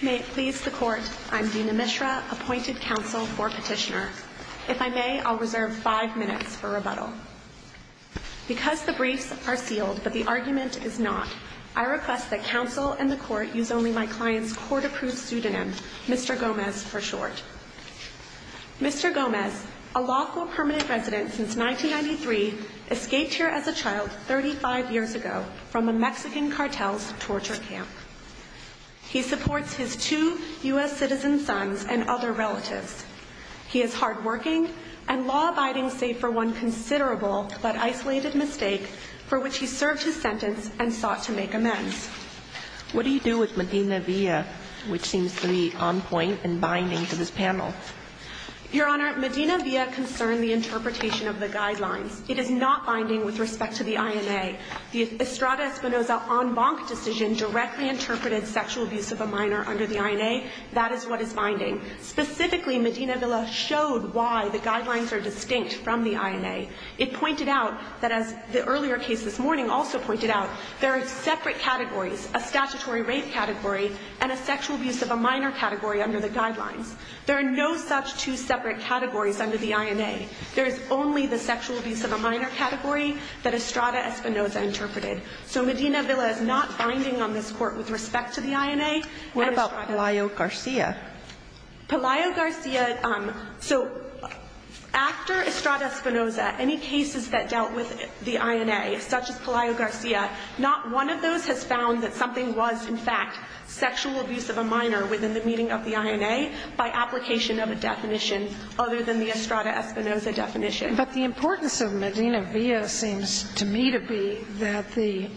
May it please the Court, I'm Dina Mishra, appointed counsel for Petitioner. If I may, I'll reserve five minutes for rebuttal. Because the briefs are sealed, but the argument is not, I request that counsel and the Court use only my client's court-approved pseudonym, Mr. Gomez, for short. Mr. Gomez, a lawful permanent resident since 1993, escaped here as a child 35 years ago from a Mexican cartel's torture camp. He supports his two U.S. citizen sons and other relatives. He is hardworking and law-abiding save for one considerable but isolated mistake for which he served his sentence and sought to make amends. What do you do with Medina Villa, which seems to be on point and binding to this panel? Your Honor, Medina Villa concerned the interpretation of the guidelines. It is not binding with respect to the INA. The Estrada Espinoza en banc decision directly interpreted sexual abuse of a minor under the INA. That is what is binding. Specifically, Medina Villa showed why the guidelines are distinct from the INA. It pointed out that, as the earlier case this morning also pointed out, there are separate categories, a statutory rape category and a sexual abuse of a minor category under the guidelines. There are no such two separate categories under the INA. There is only the sexual abuse of a minor category that Estrada Espinoza interpreted. So Medina Villa is not binding on this Court with respect to the INA. What about Palaio Garcia? Palaio Garcia, so after Estrada Espinoza, any cases that dealt with the INA such as Palaio Garcia, not one of those has found that something was, in fact, sexual abuse of a minor within the meaning of the INA by application of a definition other than the Estrada Espinoza definition. But the importance of Medina Villa seems to me to be that the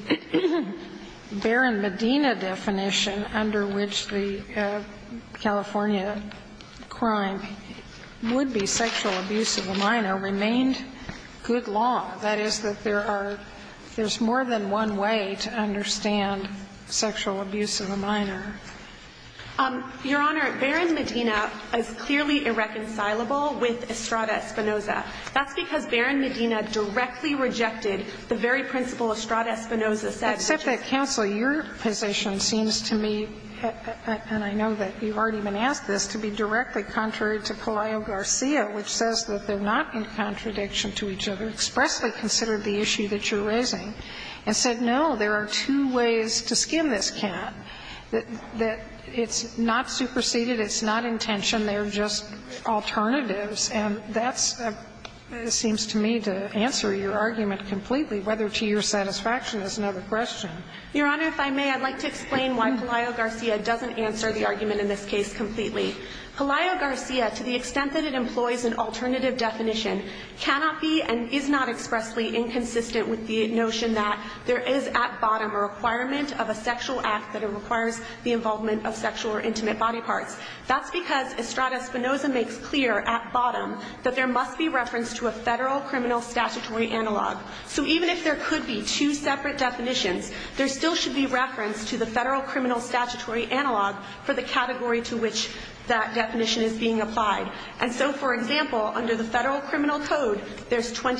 Baron Medina definition under which the California crime would be sexual abuse of a minor remained good law, that is, that there are more than one way to understand sexual abuse of a minor. Your Honor, Baron Medina is clearly irreconcilable with Estrada Espinoza. That's because Baron Medina directly rejected the very principle Estrada Espinoza said. Sotomayor, except that counsel, your position seems to me, and I know that you've already been asked this, to be directly contrary to Palaio Garcia, which says that they're not in contradiction to each other, expressly considered the issue that you're raising, and said, no, there are two ways to skim this can, that it's not superseded, it's not intention, they're just alternatives, and that seems to me to answer your question. Your Honor, if I may, I'd like to explain why Palaio Garcia doesn't answer the argument in this case completely. Palaio Garcia, to the extent that it employs an alternative definition, cannot be and is not expressly inconsistent with the notion that there is at bottom a requirement of a sexual act that requires the involvement of sexual or intimate body parts. That's because Estrada Espinoza makes clear at bottom that there must be reference to a federal criminal statutory analog. So even if there could be two separate definitions, there still should be reference to the federal criminal statutory analog for the category to which that definition is being applied. And so, for example, under the federal criminal code, there's 18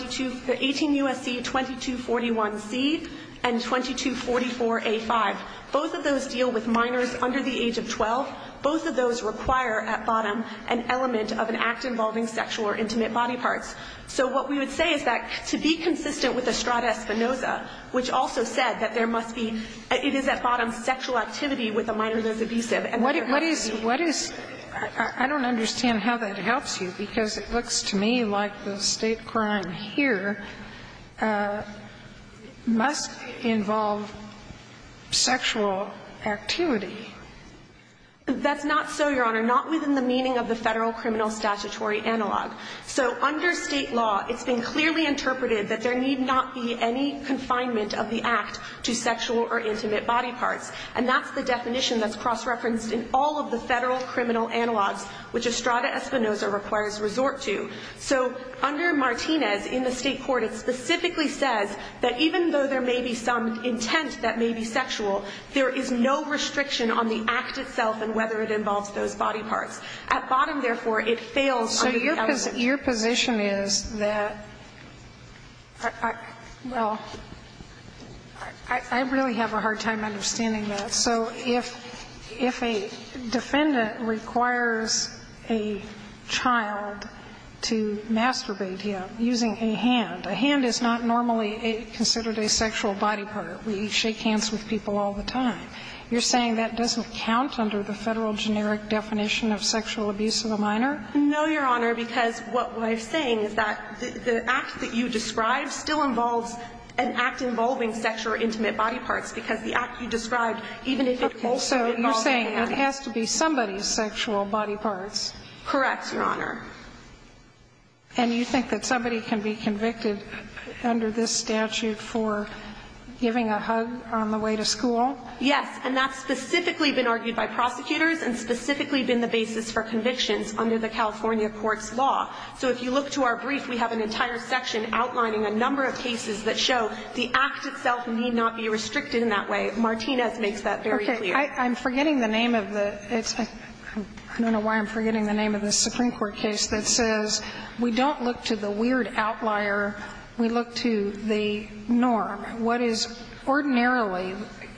U.S.C. 2241C and 2244A5. Both of those deal with minors under the age of 12. Both of those require at bottom an element of an act involving sexual or intimate body parts. So what we would say is that to be consistent with Estrada Espinoza, which also said that there must be, it is at bottom sexual activity with a minor who is abusive and there must be. What is, what is, I don't understand how that helps you, because it looks to me like the State crime here must involve sexual activity. That's not so, Your Honor, not within the meaning of the federal criminal statutory analog. So under State law, it's been clearly interpreted that there need not be any confinement of the act to sexual or intimate body parts. And that's the definition that's cross-referenced in all of the federal criminal analogs which Estrada Espinoza requires resort to. So under Martinez, in the State court, it specifically says that even though there involves those body parts. At bottom, therefore, it fails under the element. So your position is that, well, I really have a hard time understanding that. So if a defendant requires a child to masturbate him using a hand, a hand is not normally considered a sexual body part. We shake hands with people all the time. You're saying that doesn't count under the federal generic definition of sexual abuse of a minor? No, Your Honor, because what I'm saying is that the act that you describe still involves an act involving sexual or intimate body parts, because the act you described, even if it also involves an act. So you're saying it has to be somebody's sexual body parts? Correct, Your Honor. And you think that somebody can be convicted under this statute for giving a hug on the way to school? Yes, and that's specifically been argued by prosecutors and specifically been the basis for convictions under the California courts' law. So if you look to our brief, we have an entire section outlining a number of cases that show the act itself need not be restricted in that way. Martinez makes that very clear. Okay. I'm forgetting the name of the – I don't know why I'm forgetting the name of the Supreme Court case that says we don't look to the weird outlier, we look to the norm. What is ordinarily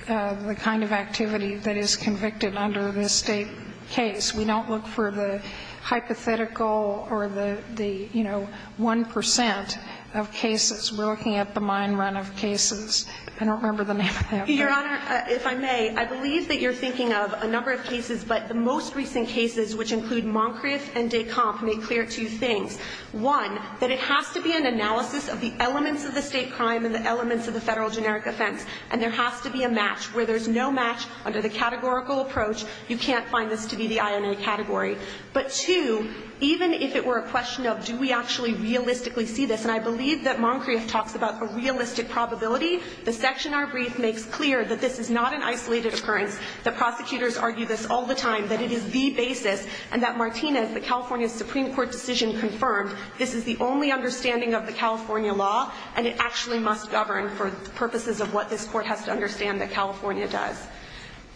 the kind of activity that is convicted under this State case? We don't look for the hypothetical or the, you know, 1 percent of cases. We're looking at the mine run of cases. I don't remember the name of that one. Your Honor, if I may, I believe that you're thinking of a number of cases, but the most recent cases, which include Moncrief and Decomp, make clear two things. One, that it has to be an analysis of the elements of the State crime and the elements of the Federal generic offense, and there has to be a match. Where there's no match under the categorical approach, you can't find this to be the INA category. But two, even if it were a question of do we actually realistically see this, and I believe that Moncrief talks about a realistic probability, the section in our brief makes clear that this is not an isolated occurrence. The prosecutors argue this all the time, that it is the basis, and that Martinez, as the California Supreme Court decision confirmed, this is the only understanding of the California law, and it actually must govern for purposes of what this Court has to understand that California does.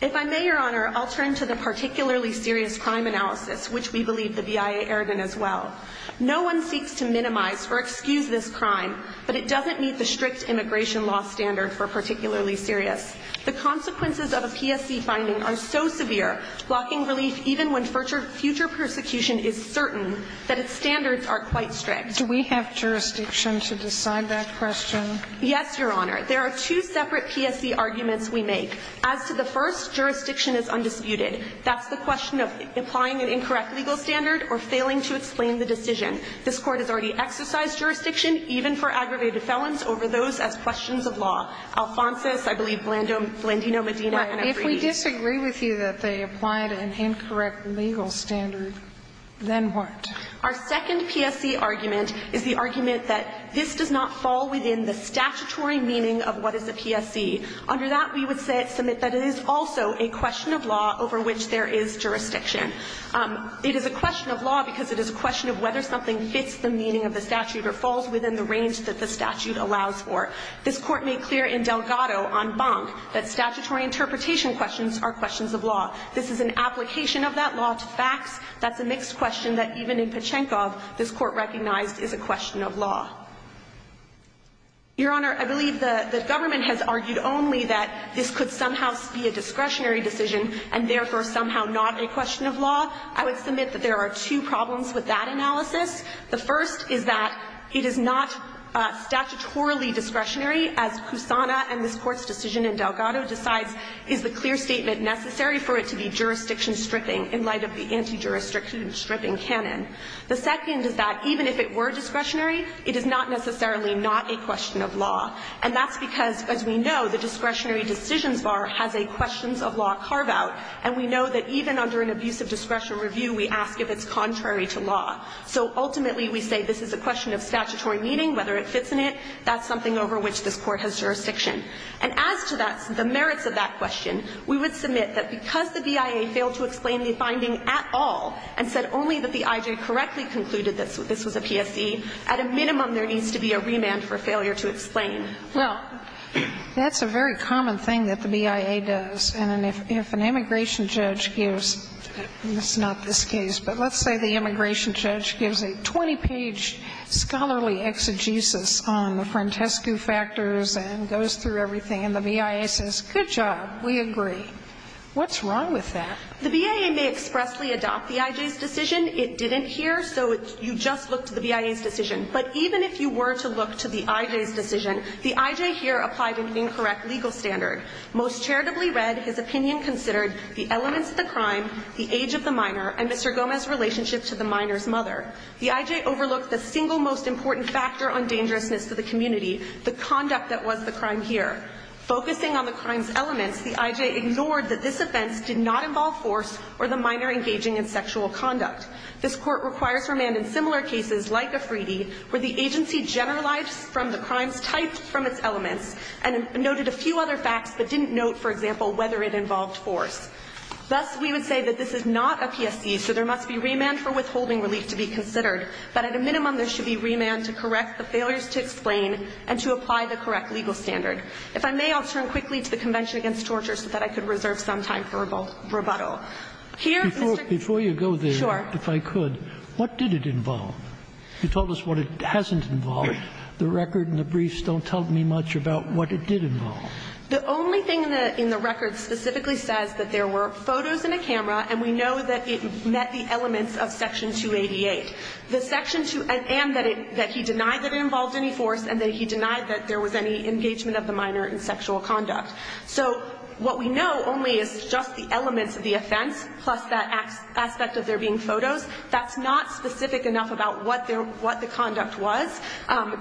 If I may, Your Honor, I'll turn to the particularly serious crime analysis, which we believe the BIA erred in as well. No one seeks to minimize or excuse this crime, but it doesn't meet the strict immigration law standard for particularly serious. The consequences of a PSC finding are so severe, blocking relief even when future persecution is certain, that its standards are quite strict. Do we have jurisdiction to decide that question? Yes, Your Honor. There are two separate PSC arguments we make. As to the first, jurisdiction is undisputed. That's the question of applying an incorrect legal standard or failing to explain the decision. This Court has already exercised jurisdiction, even for aggravated felons, over those as questions of law. Alphonsus, I believe, Blandino, Medina, and Ebrey. If we disagree with you that they applied an incorrect legal standard, then what? Our second PSC argument is the argument that this does not fall within the statutory meaning of what is a PSC. Under that, we would submit that it is also a question of law over which there is jurisdiction. It is a question of law because it is a question of whether something fits the meaning of the statute or falls within the range that the statute allows for. This Court made clear in Delgado on Bonk that statutory interpretation questions are questions of law. This is an application of that law to facts. That's a mixed question that, even in Pachenkov, this Court recognized is a question of law. Your Honor, I believe the government has argued only that this could somehow be a discretionary decision and, therefore, somehow not a question of law. I would submit that there are two problems with that analysis. The first is that it is not statutorily discretionary, as Kusana and this Court's decision in Delgado decides is the clear statement necessary for it to be jurisdiction stripping in light of the anti-jurisdiction stripping canon. The second is that even if it were discretionary, it is not necessarily not a question of law. And that's because, as we know, the discretionary decisions bar has a questions of law carve-out, and we know that even under an abuse of discretion review, we ask if it's contrary to law. So ultimately, we say this is a question of statutory meaning, whether it fits in it. That's something over which this Court has jurisdiction. And as to that, the merits of that question, we would submit that because the BIA failed to explain the finding at all and said only that the IJ correctly concluded that this was a PSE, at a minimum, there needs to be a remand for failure to explain. Well, that's a very common thing that the BIA does. And if an immigration judge gives, and it's not this case, but let's say the immigration judge gives a 20-page scholarly exegesis on the Frantescu factors and goes through everything, and the BIA says, good job, we agree, what's wrong with that? The BIA may expressly adopt the IJ's decision. It didn't here, so you just look to the BIA's decision. But even if you were to look to the IJ's decision, the IJ here applied an incorrect legal standard. Most charitably read, his opinion considered the elements of the crime, the age of the minor's mother. The IJ overlooked the single most important factor on dangerousness to the community, the conduct that was the crime here. Focusing on the crime's elements, the IJ ignored that this offense did not involve force or the minor engaging in sexual conduct. This Court requires remand in similar cases like Afridi, where the agency generalized from the crime's type from its elements and noted a few other facts, but didn't note, for example, whether it involved force. Thus, we would say that this is not a PSC, so there must be remand for withholding relief to be considered, but at a minimum, there should be remand to correct the failures to explain and to apply the correct legal standard. If I may, I'll turn quickly to the Convention Against Torture so that I could reserve some time for rebuttal. Here, Mr. Kerry. Sotomayor Before you go there, if I could, what did it involve? You told us what it hasn't involved. The record and the briefs don't tell me much about what it did involve. The only thing in the record specifically says that there were photos and a camera, and we know that it met the elements of Section 288, and that he denied that it involved any force, and that he denied that there was any engagement of the minor in sexual conduct. So what we know only is just the elements of the offense, plus that aspect of there being photos. That's not specific enough about what the conduct was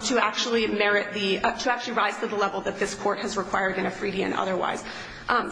to actually rise to the level that this Court has required in a freedian otherwise,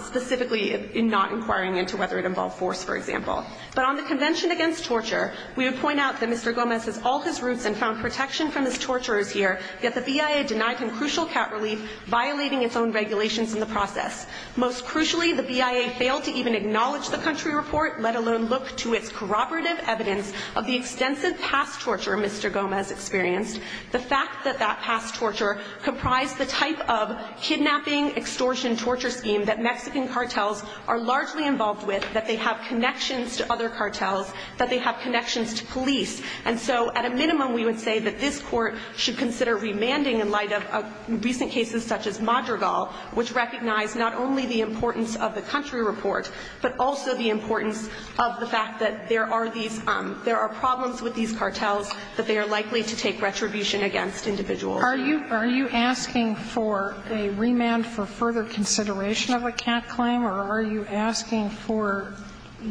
specifically in not inquiring into whether it involved force, for example. But on the Convention Against Torture, we would point out that Mr. Gomez has all his roots and found protection from his torturers here, yet the BIA denied him crucial cat relief, violating its own regulations in the process. Most crucially, the BIA failed to even acknowledge the country report, let alone look to its corroborative evidence of the extensive past torture Mr. Gomez experienced. The fact that that past torture comprised the type of kidnapping, extortion, torture scheme that Mexican cartels are largely involved with, that they have connections to other cartels, that they have connections to police, and so at a minimum we would say that this Court should consider remanding in light of recent cases such as Madrigal, which recognized not only the importance of the country report, but also the importance of the fact that there are problems with these cartels, that they are likely to take retribution against individuals. Are you asking for a remand for further consideration of a cat claim, or are you asking for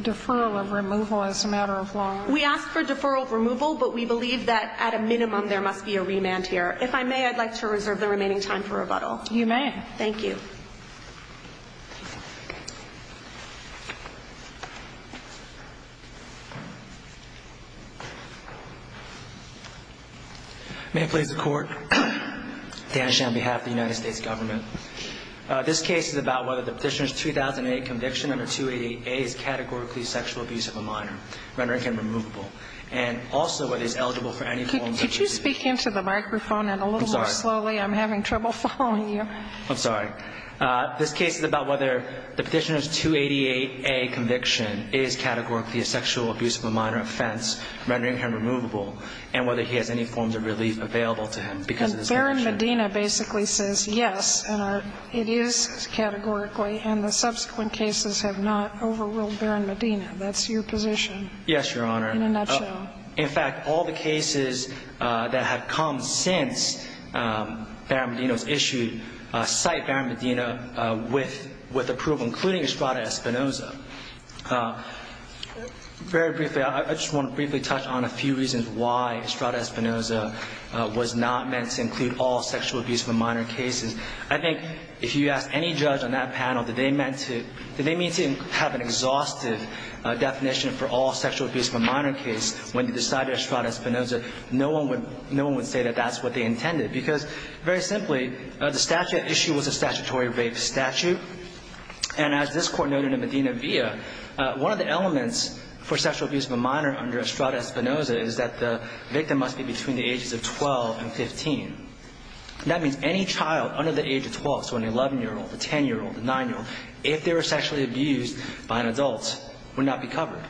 deferral of removal as a matter of law? We ask for deferral of removal, but we believe that at a minimum there must be a remand here. If I may, I'd like to reserve the remaining time for rebuttal. You may. Thank you. May it please the Court. Dan Sheehan on behalf of the United States Government. This case is about whether the Petitioner's 2008 conviction under 288A is categorically sexual abuse of a minor, rendering him removable, and also whether he is eligible for any forms of abuse. Could you speak into the microphone a little more slowly? I'm sorry. I'm having trouble following you. I'm sorry. This case is about whether the Petitioner's 288A conviction is categorically a sexual abuse of a minor offense, rendering him removable, and whether he has any forms of relief available to him because of his conviction. And Barron-Medina basically says yes, and it is categorically, and the subsequent cases have not overruled Barron-Medina. That's your position. Yes, Your Honor. In a nutshell. In fact, all the cases that have come since Barron-Medina was issued cite Barron-Medina with approval, including Estrada Espinoza. Very briefly, I just want to briefly touch on a few reasons why Estrada Espinoza was not meant to include all sexual abuse of a minor cases. I think if you ask any judge on that panel, did they mean to have an exhaustive definition for all sexual abuse of a minor case when they decided Estrada Espinoza, no one would say that that's what they intended because, very simply, the statute issue was a statutory rape statute. And as this Court noted in Medina-Villa, one of the elements for sexual abuse of a minor under Estrada Espinoza is that the victim must be between the ages of 12 and 15. That means any child under the age of 12, so an 11-year-old, a 10-year-old, a 9-year-old, if they were sexually abused by an adult, would not be covered.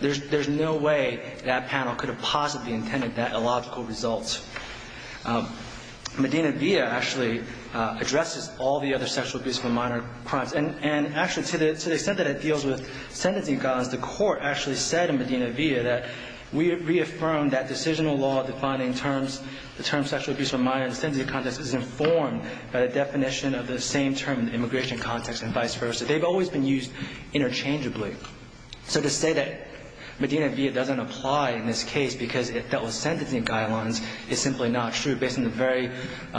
There's no way that panel could have possibly intended that illogical result. Medina-Villa actually addresses all the other sexual abuse of a minor crimes. And actually, to the extent that it deals with sentencing guidelines, the Court actually said in Medina-Villa that we reaffirmed that decisional law defining terms, the term sexual abuse of a minor in the sentencing context is informed by the definition of the same term in the immigration context and vice versa. They've always been used interchangeably. So to say that Medina-Villa doesn't apply in this case because it dealt with is simply not true, based on the very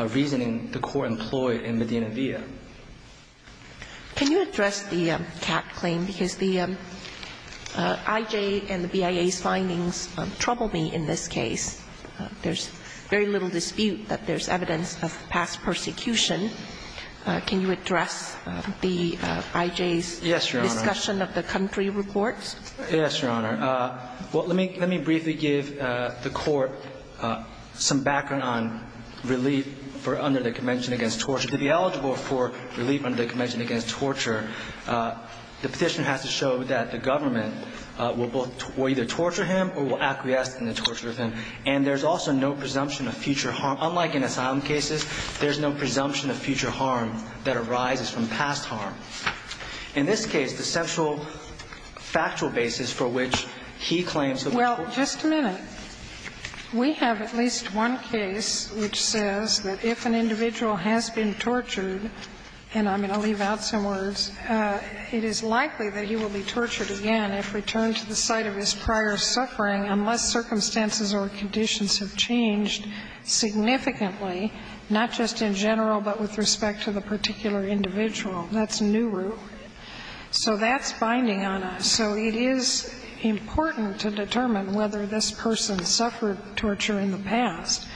reasoning the Court employed in Medina-Villa. Can you address the Catt claim? Because the IJ and the BIA's findings trouble me in this case. There's very little dispute that there's evidence of past persecution. Can you address the IJ's discussion of the country reports? Yes, Your Honor. Well, let me briefly give the Court some background on relief for under the Convention Against Torture. To be eligible for relief under the Convention Against Torture, the petitioner has to show that the government will either torture him or will acquiesce in the torture of him. And there's also no presumption of future harm. Unlike in asylum cases, there's no presumption of future harm that arises from past harm. In this case, the central factual basis for which he claims that the Court will torture him. Well, just a minute. We have at least one case which says that if an individual has been tortured and I'm going to leave out some words, it is likely that he will be tortured again if returned to the site of his prior suffering unless circumstances or conditions have changed significantly, not just in general but with respect to the particular individual. That's new rule. So that's binding on us. So it is important to determine whether this person suffered torture in the past.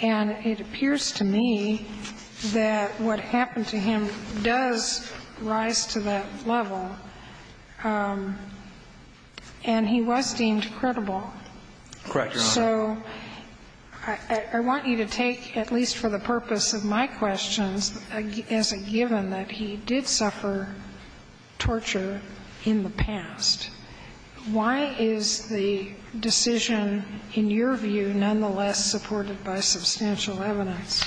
And it appears to me that what happened to him does rise to that level. And he was deemed credible. Correct, Your Honor. So I want you to take, at least for the purpose of my questions, as a given that he did suffer torture in the past, why is the decision, in your view, nonetheless supported by substantial evidence?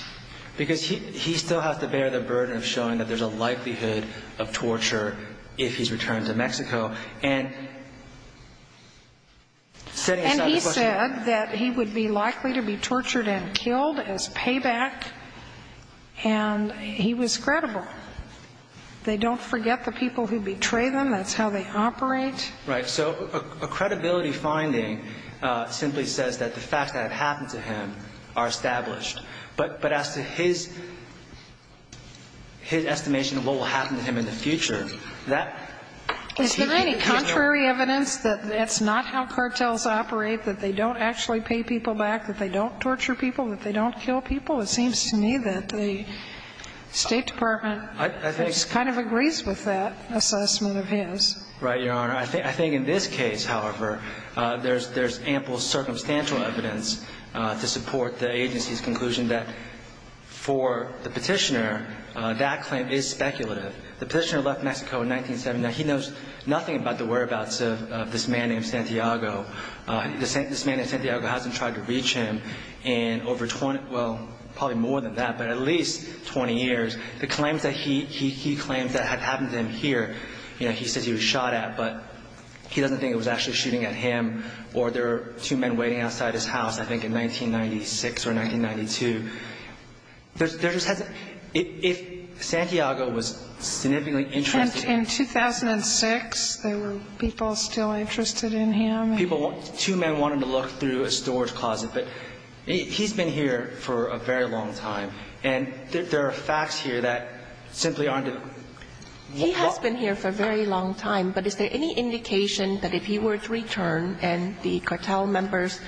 Because he still has to bear the burden of showing that there's a likelihood of torture if he's returned to Mexico. And he said that he would be likely to be tortured and killed as payback, and he was credible. They don't forget the people who betray them. That's how they operate. Right. So a credibility finding simply says that the facts that have happened to him are established. But as to his estimation of what will happen to him in the future, that he can't give no evidence. Is there any contrary evidence that it's not how cartels operate, that they don't actually pay people back, that they don't torture people, that they don't kill people? It seems to me that the State Department kind of agrees with that assessment of his. Right, Your Honor. I think in this case, however, there's ample circumstantial evidence to support the agency's conclusion that for the Petitioner, that claim is speculative. The Petitioner left Mexico in 1979. He knows nothing about the whereabouts of this man named Santiago. This man named Santiago hasn't tried to reach him in over 20, well, probably more than that, but at least 20 years. The claims that he claims that had happened to him here, you know, he says he was shot at, but he doesn't think it was actually shooting at him, or there were two men waiting outside his house, I think, in 1996 or 1992. There just hasn't been. If Santiago was significantly interested in him. In 1996, there were people still interested in him. People, two men wanted to look through a storage closet. But he's been here for a very long time. And there are facts here that simply aren't. He has been here for a very long time, but is there any indication that if he were to return and the cartel members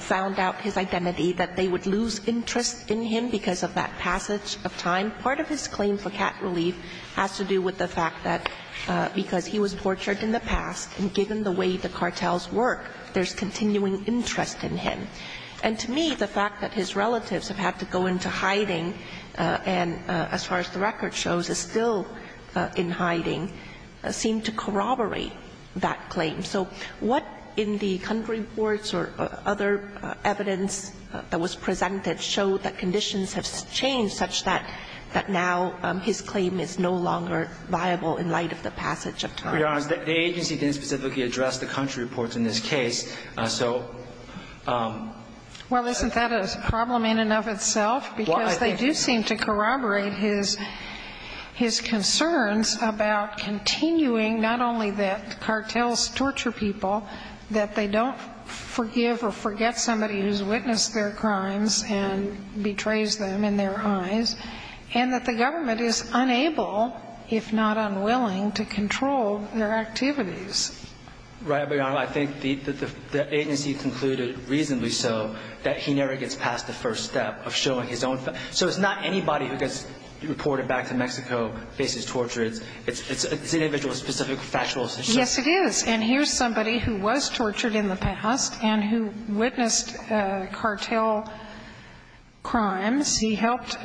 found out his identity, that they would lose interest in him because of that passage of time? Part of his claim for cat relief has to do with the fact that because he was tortured in the past, and given the way the cartels work, there's continuing interest in him. And to me, the fact that his relatives have had to go into hiding, and as far as the record shows, is still in hiding, seemed to corroborate that claim. So what in the country reports or other evidence that was presented showed that his claim is no longer viable in light of the passage of time? We are honest. The agency didn't specifically address the country reports in this case. So... Well, isn't that a problem in and of itself? Well, I think... Because they do seem to corroborate his concerns about continuing not only that cartels torture people, that they don't forgive or forget somebody who's witnessed their activities. Right. But, Your Honor, I think the agency concluded, reasonably so, that he never gets past the first step of showing his own... So it's not anybody who gets reported back to Mexico, faces torture. It's individual, specific, factual... Yes, it is. And here's somebody who was tortured in the past and who witnessed cartel crimes. He helped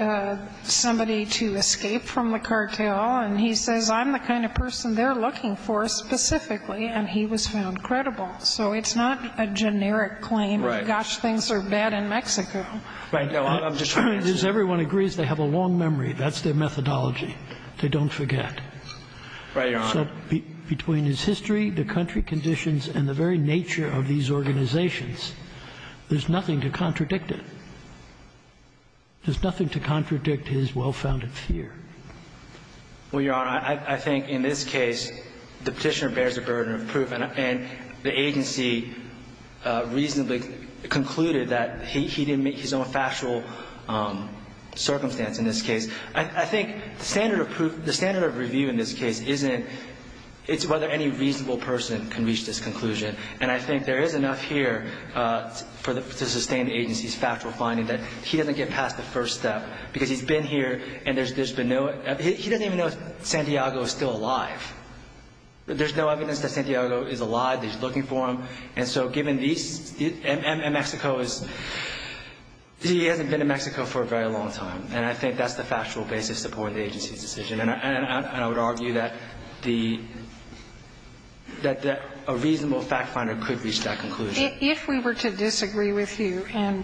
somebody to escape from the cartel, and he says, I'm the kind of person they're looking for specifically, and he was found credible. So it's not a generic claim. Right. Gosh, things are bad in Mexico. Right. No, I'm just trying to... As everyone agrees, they have a long memory. That's their methodology. They don't forget. Right, Your Honor. So between his history, the country conditions, and the very nature of these organizations, there's nothing to contradict it. There's nothing to contradict his well-founded fear. Well, Your Honor, I think in this case, the Petitioner bears the burden of proof, and the agency reasonably concluded that he didn't make his own factual circumstance in this case. I think the standard of proof, the standard of review in this case isn't, it's whether any reasonable person can reach this conclusion, and I think there is enough here to sustain the agency's factual finding that he doesn't get past the first step, because he's been here, and there's been no... He doesn't even know Santiago is still alive. There's no evidence that Santiago is alive, that he's looking for him. And so given these... And Mexico is... He hasn't been in Mexico for a very long time, and I think that's the factual basis supporting the agency's decision. And I would argue that the, that a reasonable fact finder could reach that conclusion. If we were to disagree with you, and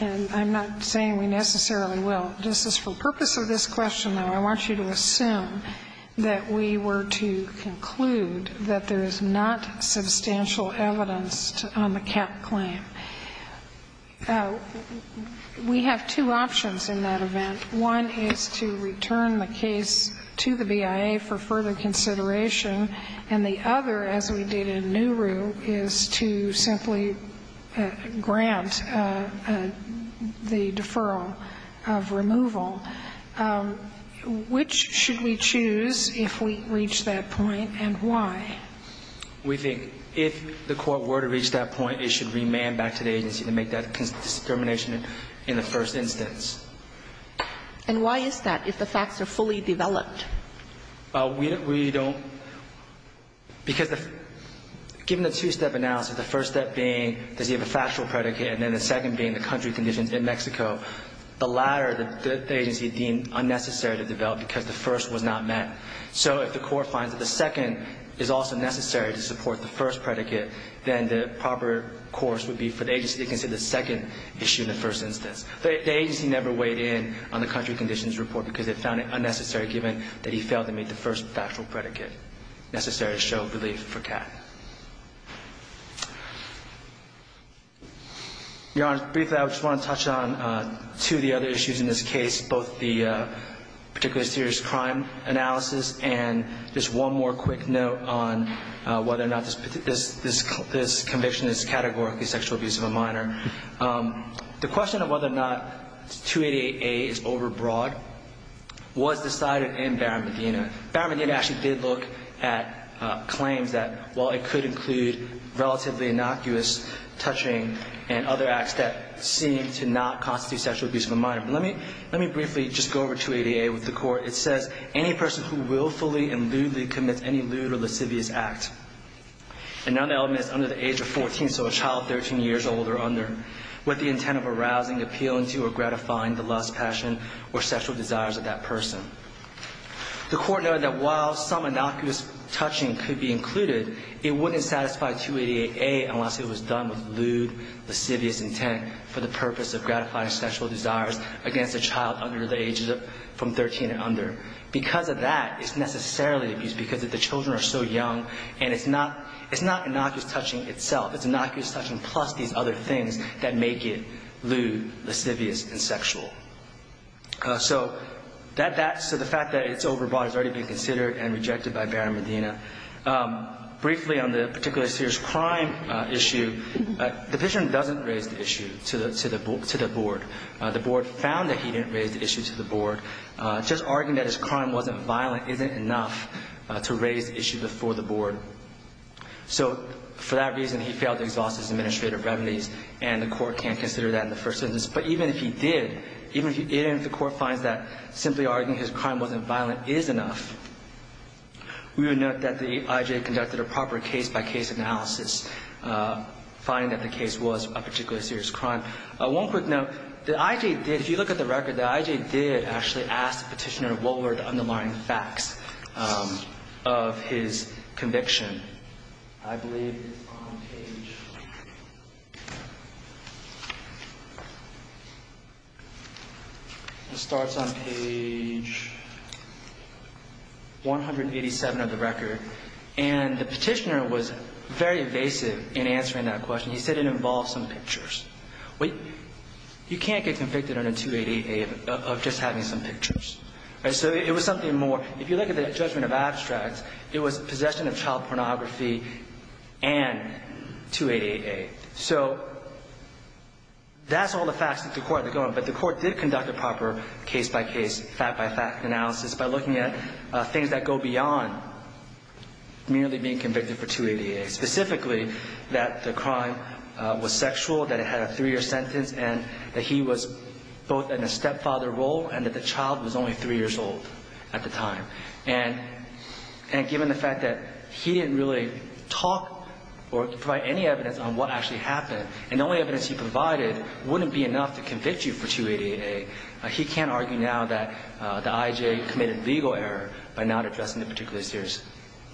I'm not saying we necessarily will, just for the purpose of this question, though, I want you to assume that we were to conclude that there is not substantial evidence on the cap claim. We have two options in that event. One is to return the case to the BIA for further consideration, and the other, as we did in Nuru, is to simply grant the deferral of removal. Which should we choose if we reach that point, and why? We think if the court were to reach that point, it should remand back to the agency to make that determination in the first instance. And why is that, if the facts are fully developed? We don't... Because the... Given the two-step analysis, the first step being, does he have a factual predicate, and then the second being the country conditions in Mexico. The latter, the agency deemed unnecessary to develop because the first was not met. So if the court finds that the second is also necessary to support the first predicate, then the proper course would be for the agency to consider the second issue in the first instance. The agency never weighed in on the country conditions report because it found it unnecessary, given that he failed to meet the first factual predicate necessary to show relief for Kat. Your Honor, briefly, I just want to touch on two of the other issues in this case, both the particularly serious crime analysis, and just one more quick note on whether or not this conviction is categorically sexual abuse of a minor. The question of whether or not 288A is overbroad was decided in Barron-Medina. Barron-Medina actually did look at claims that, while it could include relatively innocuous touching and other acts that seem to not constitute sexual abuse of a minor. Let me briefly just go over 288A with the court. It says, any person who willfully and lewdly commits any lewd or lascivious act, and now the element is under the age of 14, so a child 13 years old or under, with the intent of arousing, appealing to, or gratifying the lust, passion, or sexual desires of that person. The court noted that while some innocuous touching could be included, it wouldn't satisfy 288A unless it was done with lewd, lascivious intent for the purpose of gratifying sexual desires against a child under the age from 13 and under. Because of that, it's necessarily abuse because the children are so young, and it's not innocuous touching itself. It's innocuous touching plus these other things that make it lewd, lascivious, and sexual. So the fact that it's overbroad has already been considered and rejected by Barron-Medina. Briefly on the particularly serious crime issue, the patient doesn't raise the issue to the board. The board found that he didn't raise the issue to the board. Just arguing that his crime wasn't violent isn't enough to raise the issue before the board. So for that reason, he failed to exhaust his administrative remedies, and the court can't consider that in the first instance. But even if he did, even if the court finds that simply arguing his crime wasn't violent is enough, we would note that the I.J. conducted a proper case-by-case analysis, finding that the case was a particularly serious crime. One quick note, the I.J. did, if you look at the record, the I.J. did actually ask the petitioner what were the underlying facts of his conviction. I believe it's on page... It starts on page 187 of the record. And the petitioner was very evasive in answering that question. He said it involved some pictures. You can't get convicted under 288A of just having some pictures. So it was something more. If you look at the judgment of abstracts, it was possession of child pornography and 288A. So that's all the facts that the court had to go on. But the court did conduct a proper case-by-case, fact-by-fact analysis by looking at things that go beyond merely being convicted for 288A, specifically that the crime was sexual, that it had a three-year sentence, and that he was both in a stepfather role and that the child was only three years old at the time. And given the fact that he didn't really talk or provide any evidence on what actually happened, and the only evidence he provided wouldn't be enough to convict you for 288A, he can't argue now that the I.J. committed legal error by not addressing the particularly serious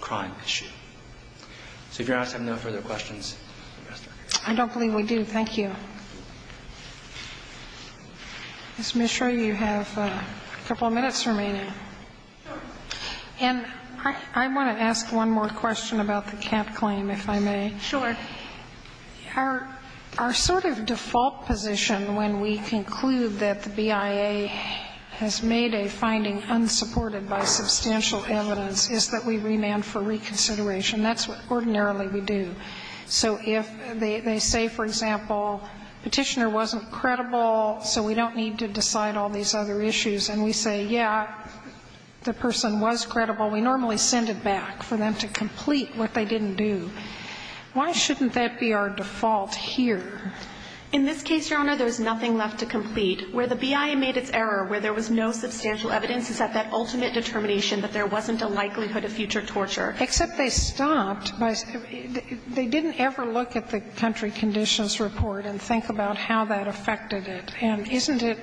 crime issue. So if Your Honor has no further questions... I don't believe we do. Thank you. Ms. Mishra, you have a couple of minutes remaining. And I want to ask one more question about the cat claim, if I may. Sure. Our sort of default position when we conclude that the BIA has made a finding unsupported by substantial evidence is that we remand for reconsideration. That's what ordinarily we do. So if they say, for example, Petitioner wasn't credible, so we don't need to decide all these other issues, and we say, yeah, the person was credible, we normally send it back for them to complete what they didn't do. Why shouldn't that be our default here? In this case, Your Honor, there's nothing left to complete. Where the BIA made its error, where there was no substantial evidence, is at that ultimate determination that there wasn't a likelihood of future torture. Except they stopped. They didn't ever look at the country conditions report and think about how that affected it. And isn't it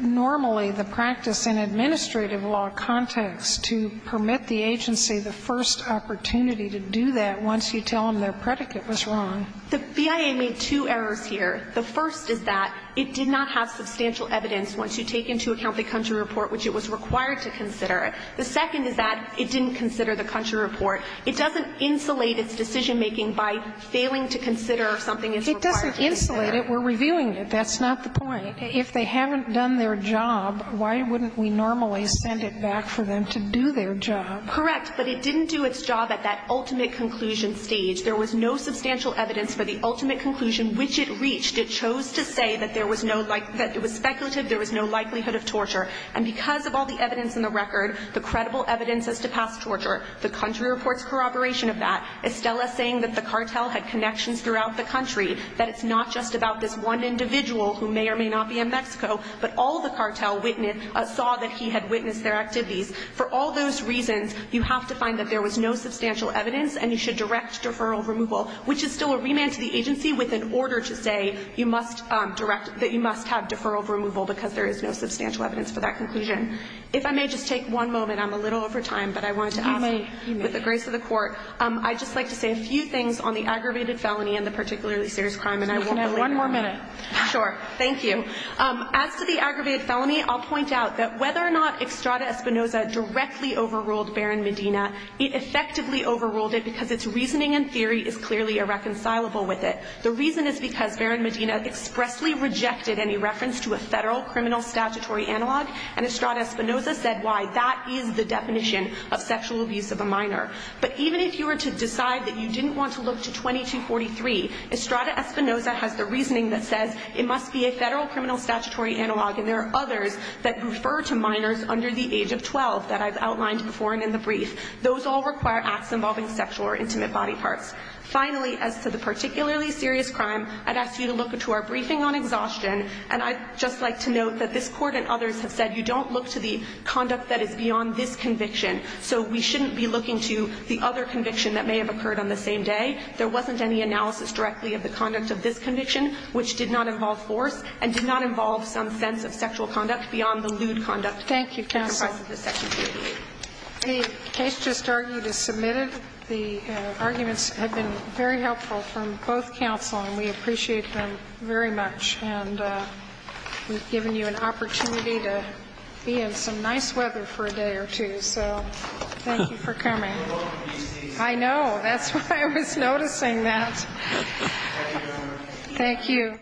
normally the practice in administrative law context to permit the agency the first opportunity to do that once you tell them their predicate was wrong? The BIA made two errors here. The first is that it did not have substantial evidence once you take into account the country report which it was required to consider. The second is that it didn't consider the country report. It doesn't insulate its decision-making by failing to consider something it's required to consider. It doesn't insulate it. We're reviewing it. That's not the point. If they haven't done their job, why wouldn't we normally send it back for them to do their job? Correct. But it didn't do its job at that ultimate conclusion stage. There was no substantial evidence for the ultimate conclusion which it reached. It chose to say that there was no like – that it was speculative, there was no likelihood of torture. And because of all the evidence in the record, the credible evidence is to pass torture. The country report's corroboration of that. Estella saying that the cartel had connections throughout the country, that it's not just about this one individual who may or may not be in Mexico, but all the cartel saw that he had witnessed their activities. For all those reasons, you have to find that there was no substantial evidence and you should direct deferral removal, which is still a remand to the agency with an order to say you must direct – that you must have deferral removal because there is no substantial evidence for that conclusion. If I may just take one moment. I'm a little over time, but I wanted to ask, with the grace of the Court, I'd just like to say a few things on the aggravated felony and the particularly serious And I won't delay any more. You can have one more minute. Sure. Thank you. As to the aggravated felony, I'll point out that whether or not Extrada Espinoza directly overruled Baron Medina, it effectively overruled it because its reasoning and theory is clearly irreconcilable with it. The reason is because Baron Medina expressly rejected any reference to a federal criminal statutory analog, and Extrada Espinoza said why. That is the definition of sexual abuse of a minor. But even if you were to decide that you didn't want to look to 2243, Extrada Espinoza has the reasoning that says it must be a federal criminal statutory analog, and there are others that refer to minors under the age of 12 that I've outlined before and in the brief. Those all require acts involving sexual or intimate body parts. Finally, as to the particularly serious crime, I'd ask you to look to our briefing on exhaustion, and I'd just like to note that this Court and others have said you don't look to the conduct that is beyond this conviction, so we shouldn't be looking to the other conviction that may have occurred on the same day. There wasn't any analysis directly of the conduct of this conviction, which did not involve force and did not involve some sense of sexual conduct beyond the lewd conduct. Thank you, counsel. The case just argued is submitted. The arguments have been very helpful from both counsel, and we appreciate them very much. And we've given you an opportunity to be in some nice weather for a day or two, so thank you for coming. I know. That's why I was noticing that. Thank you.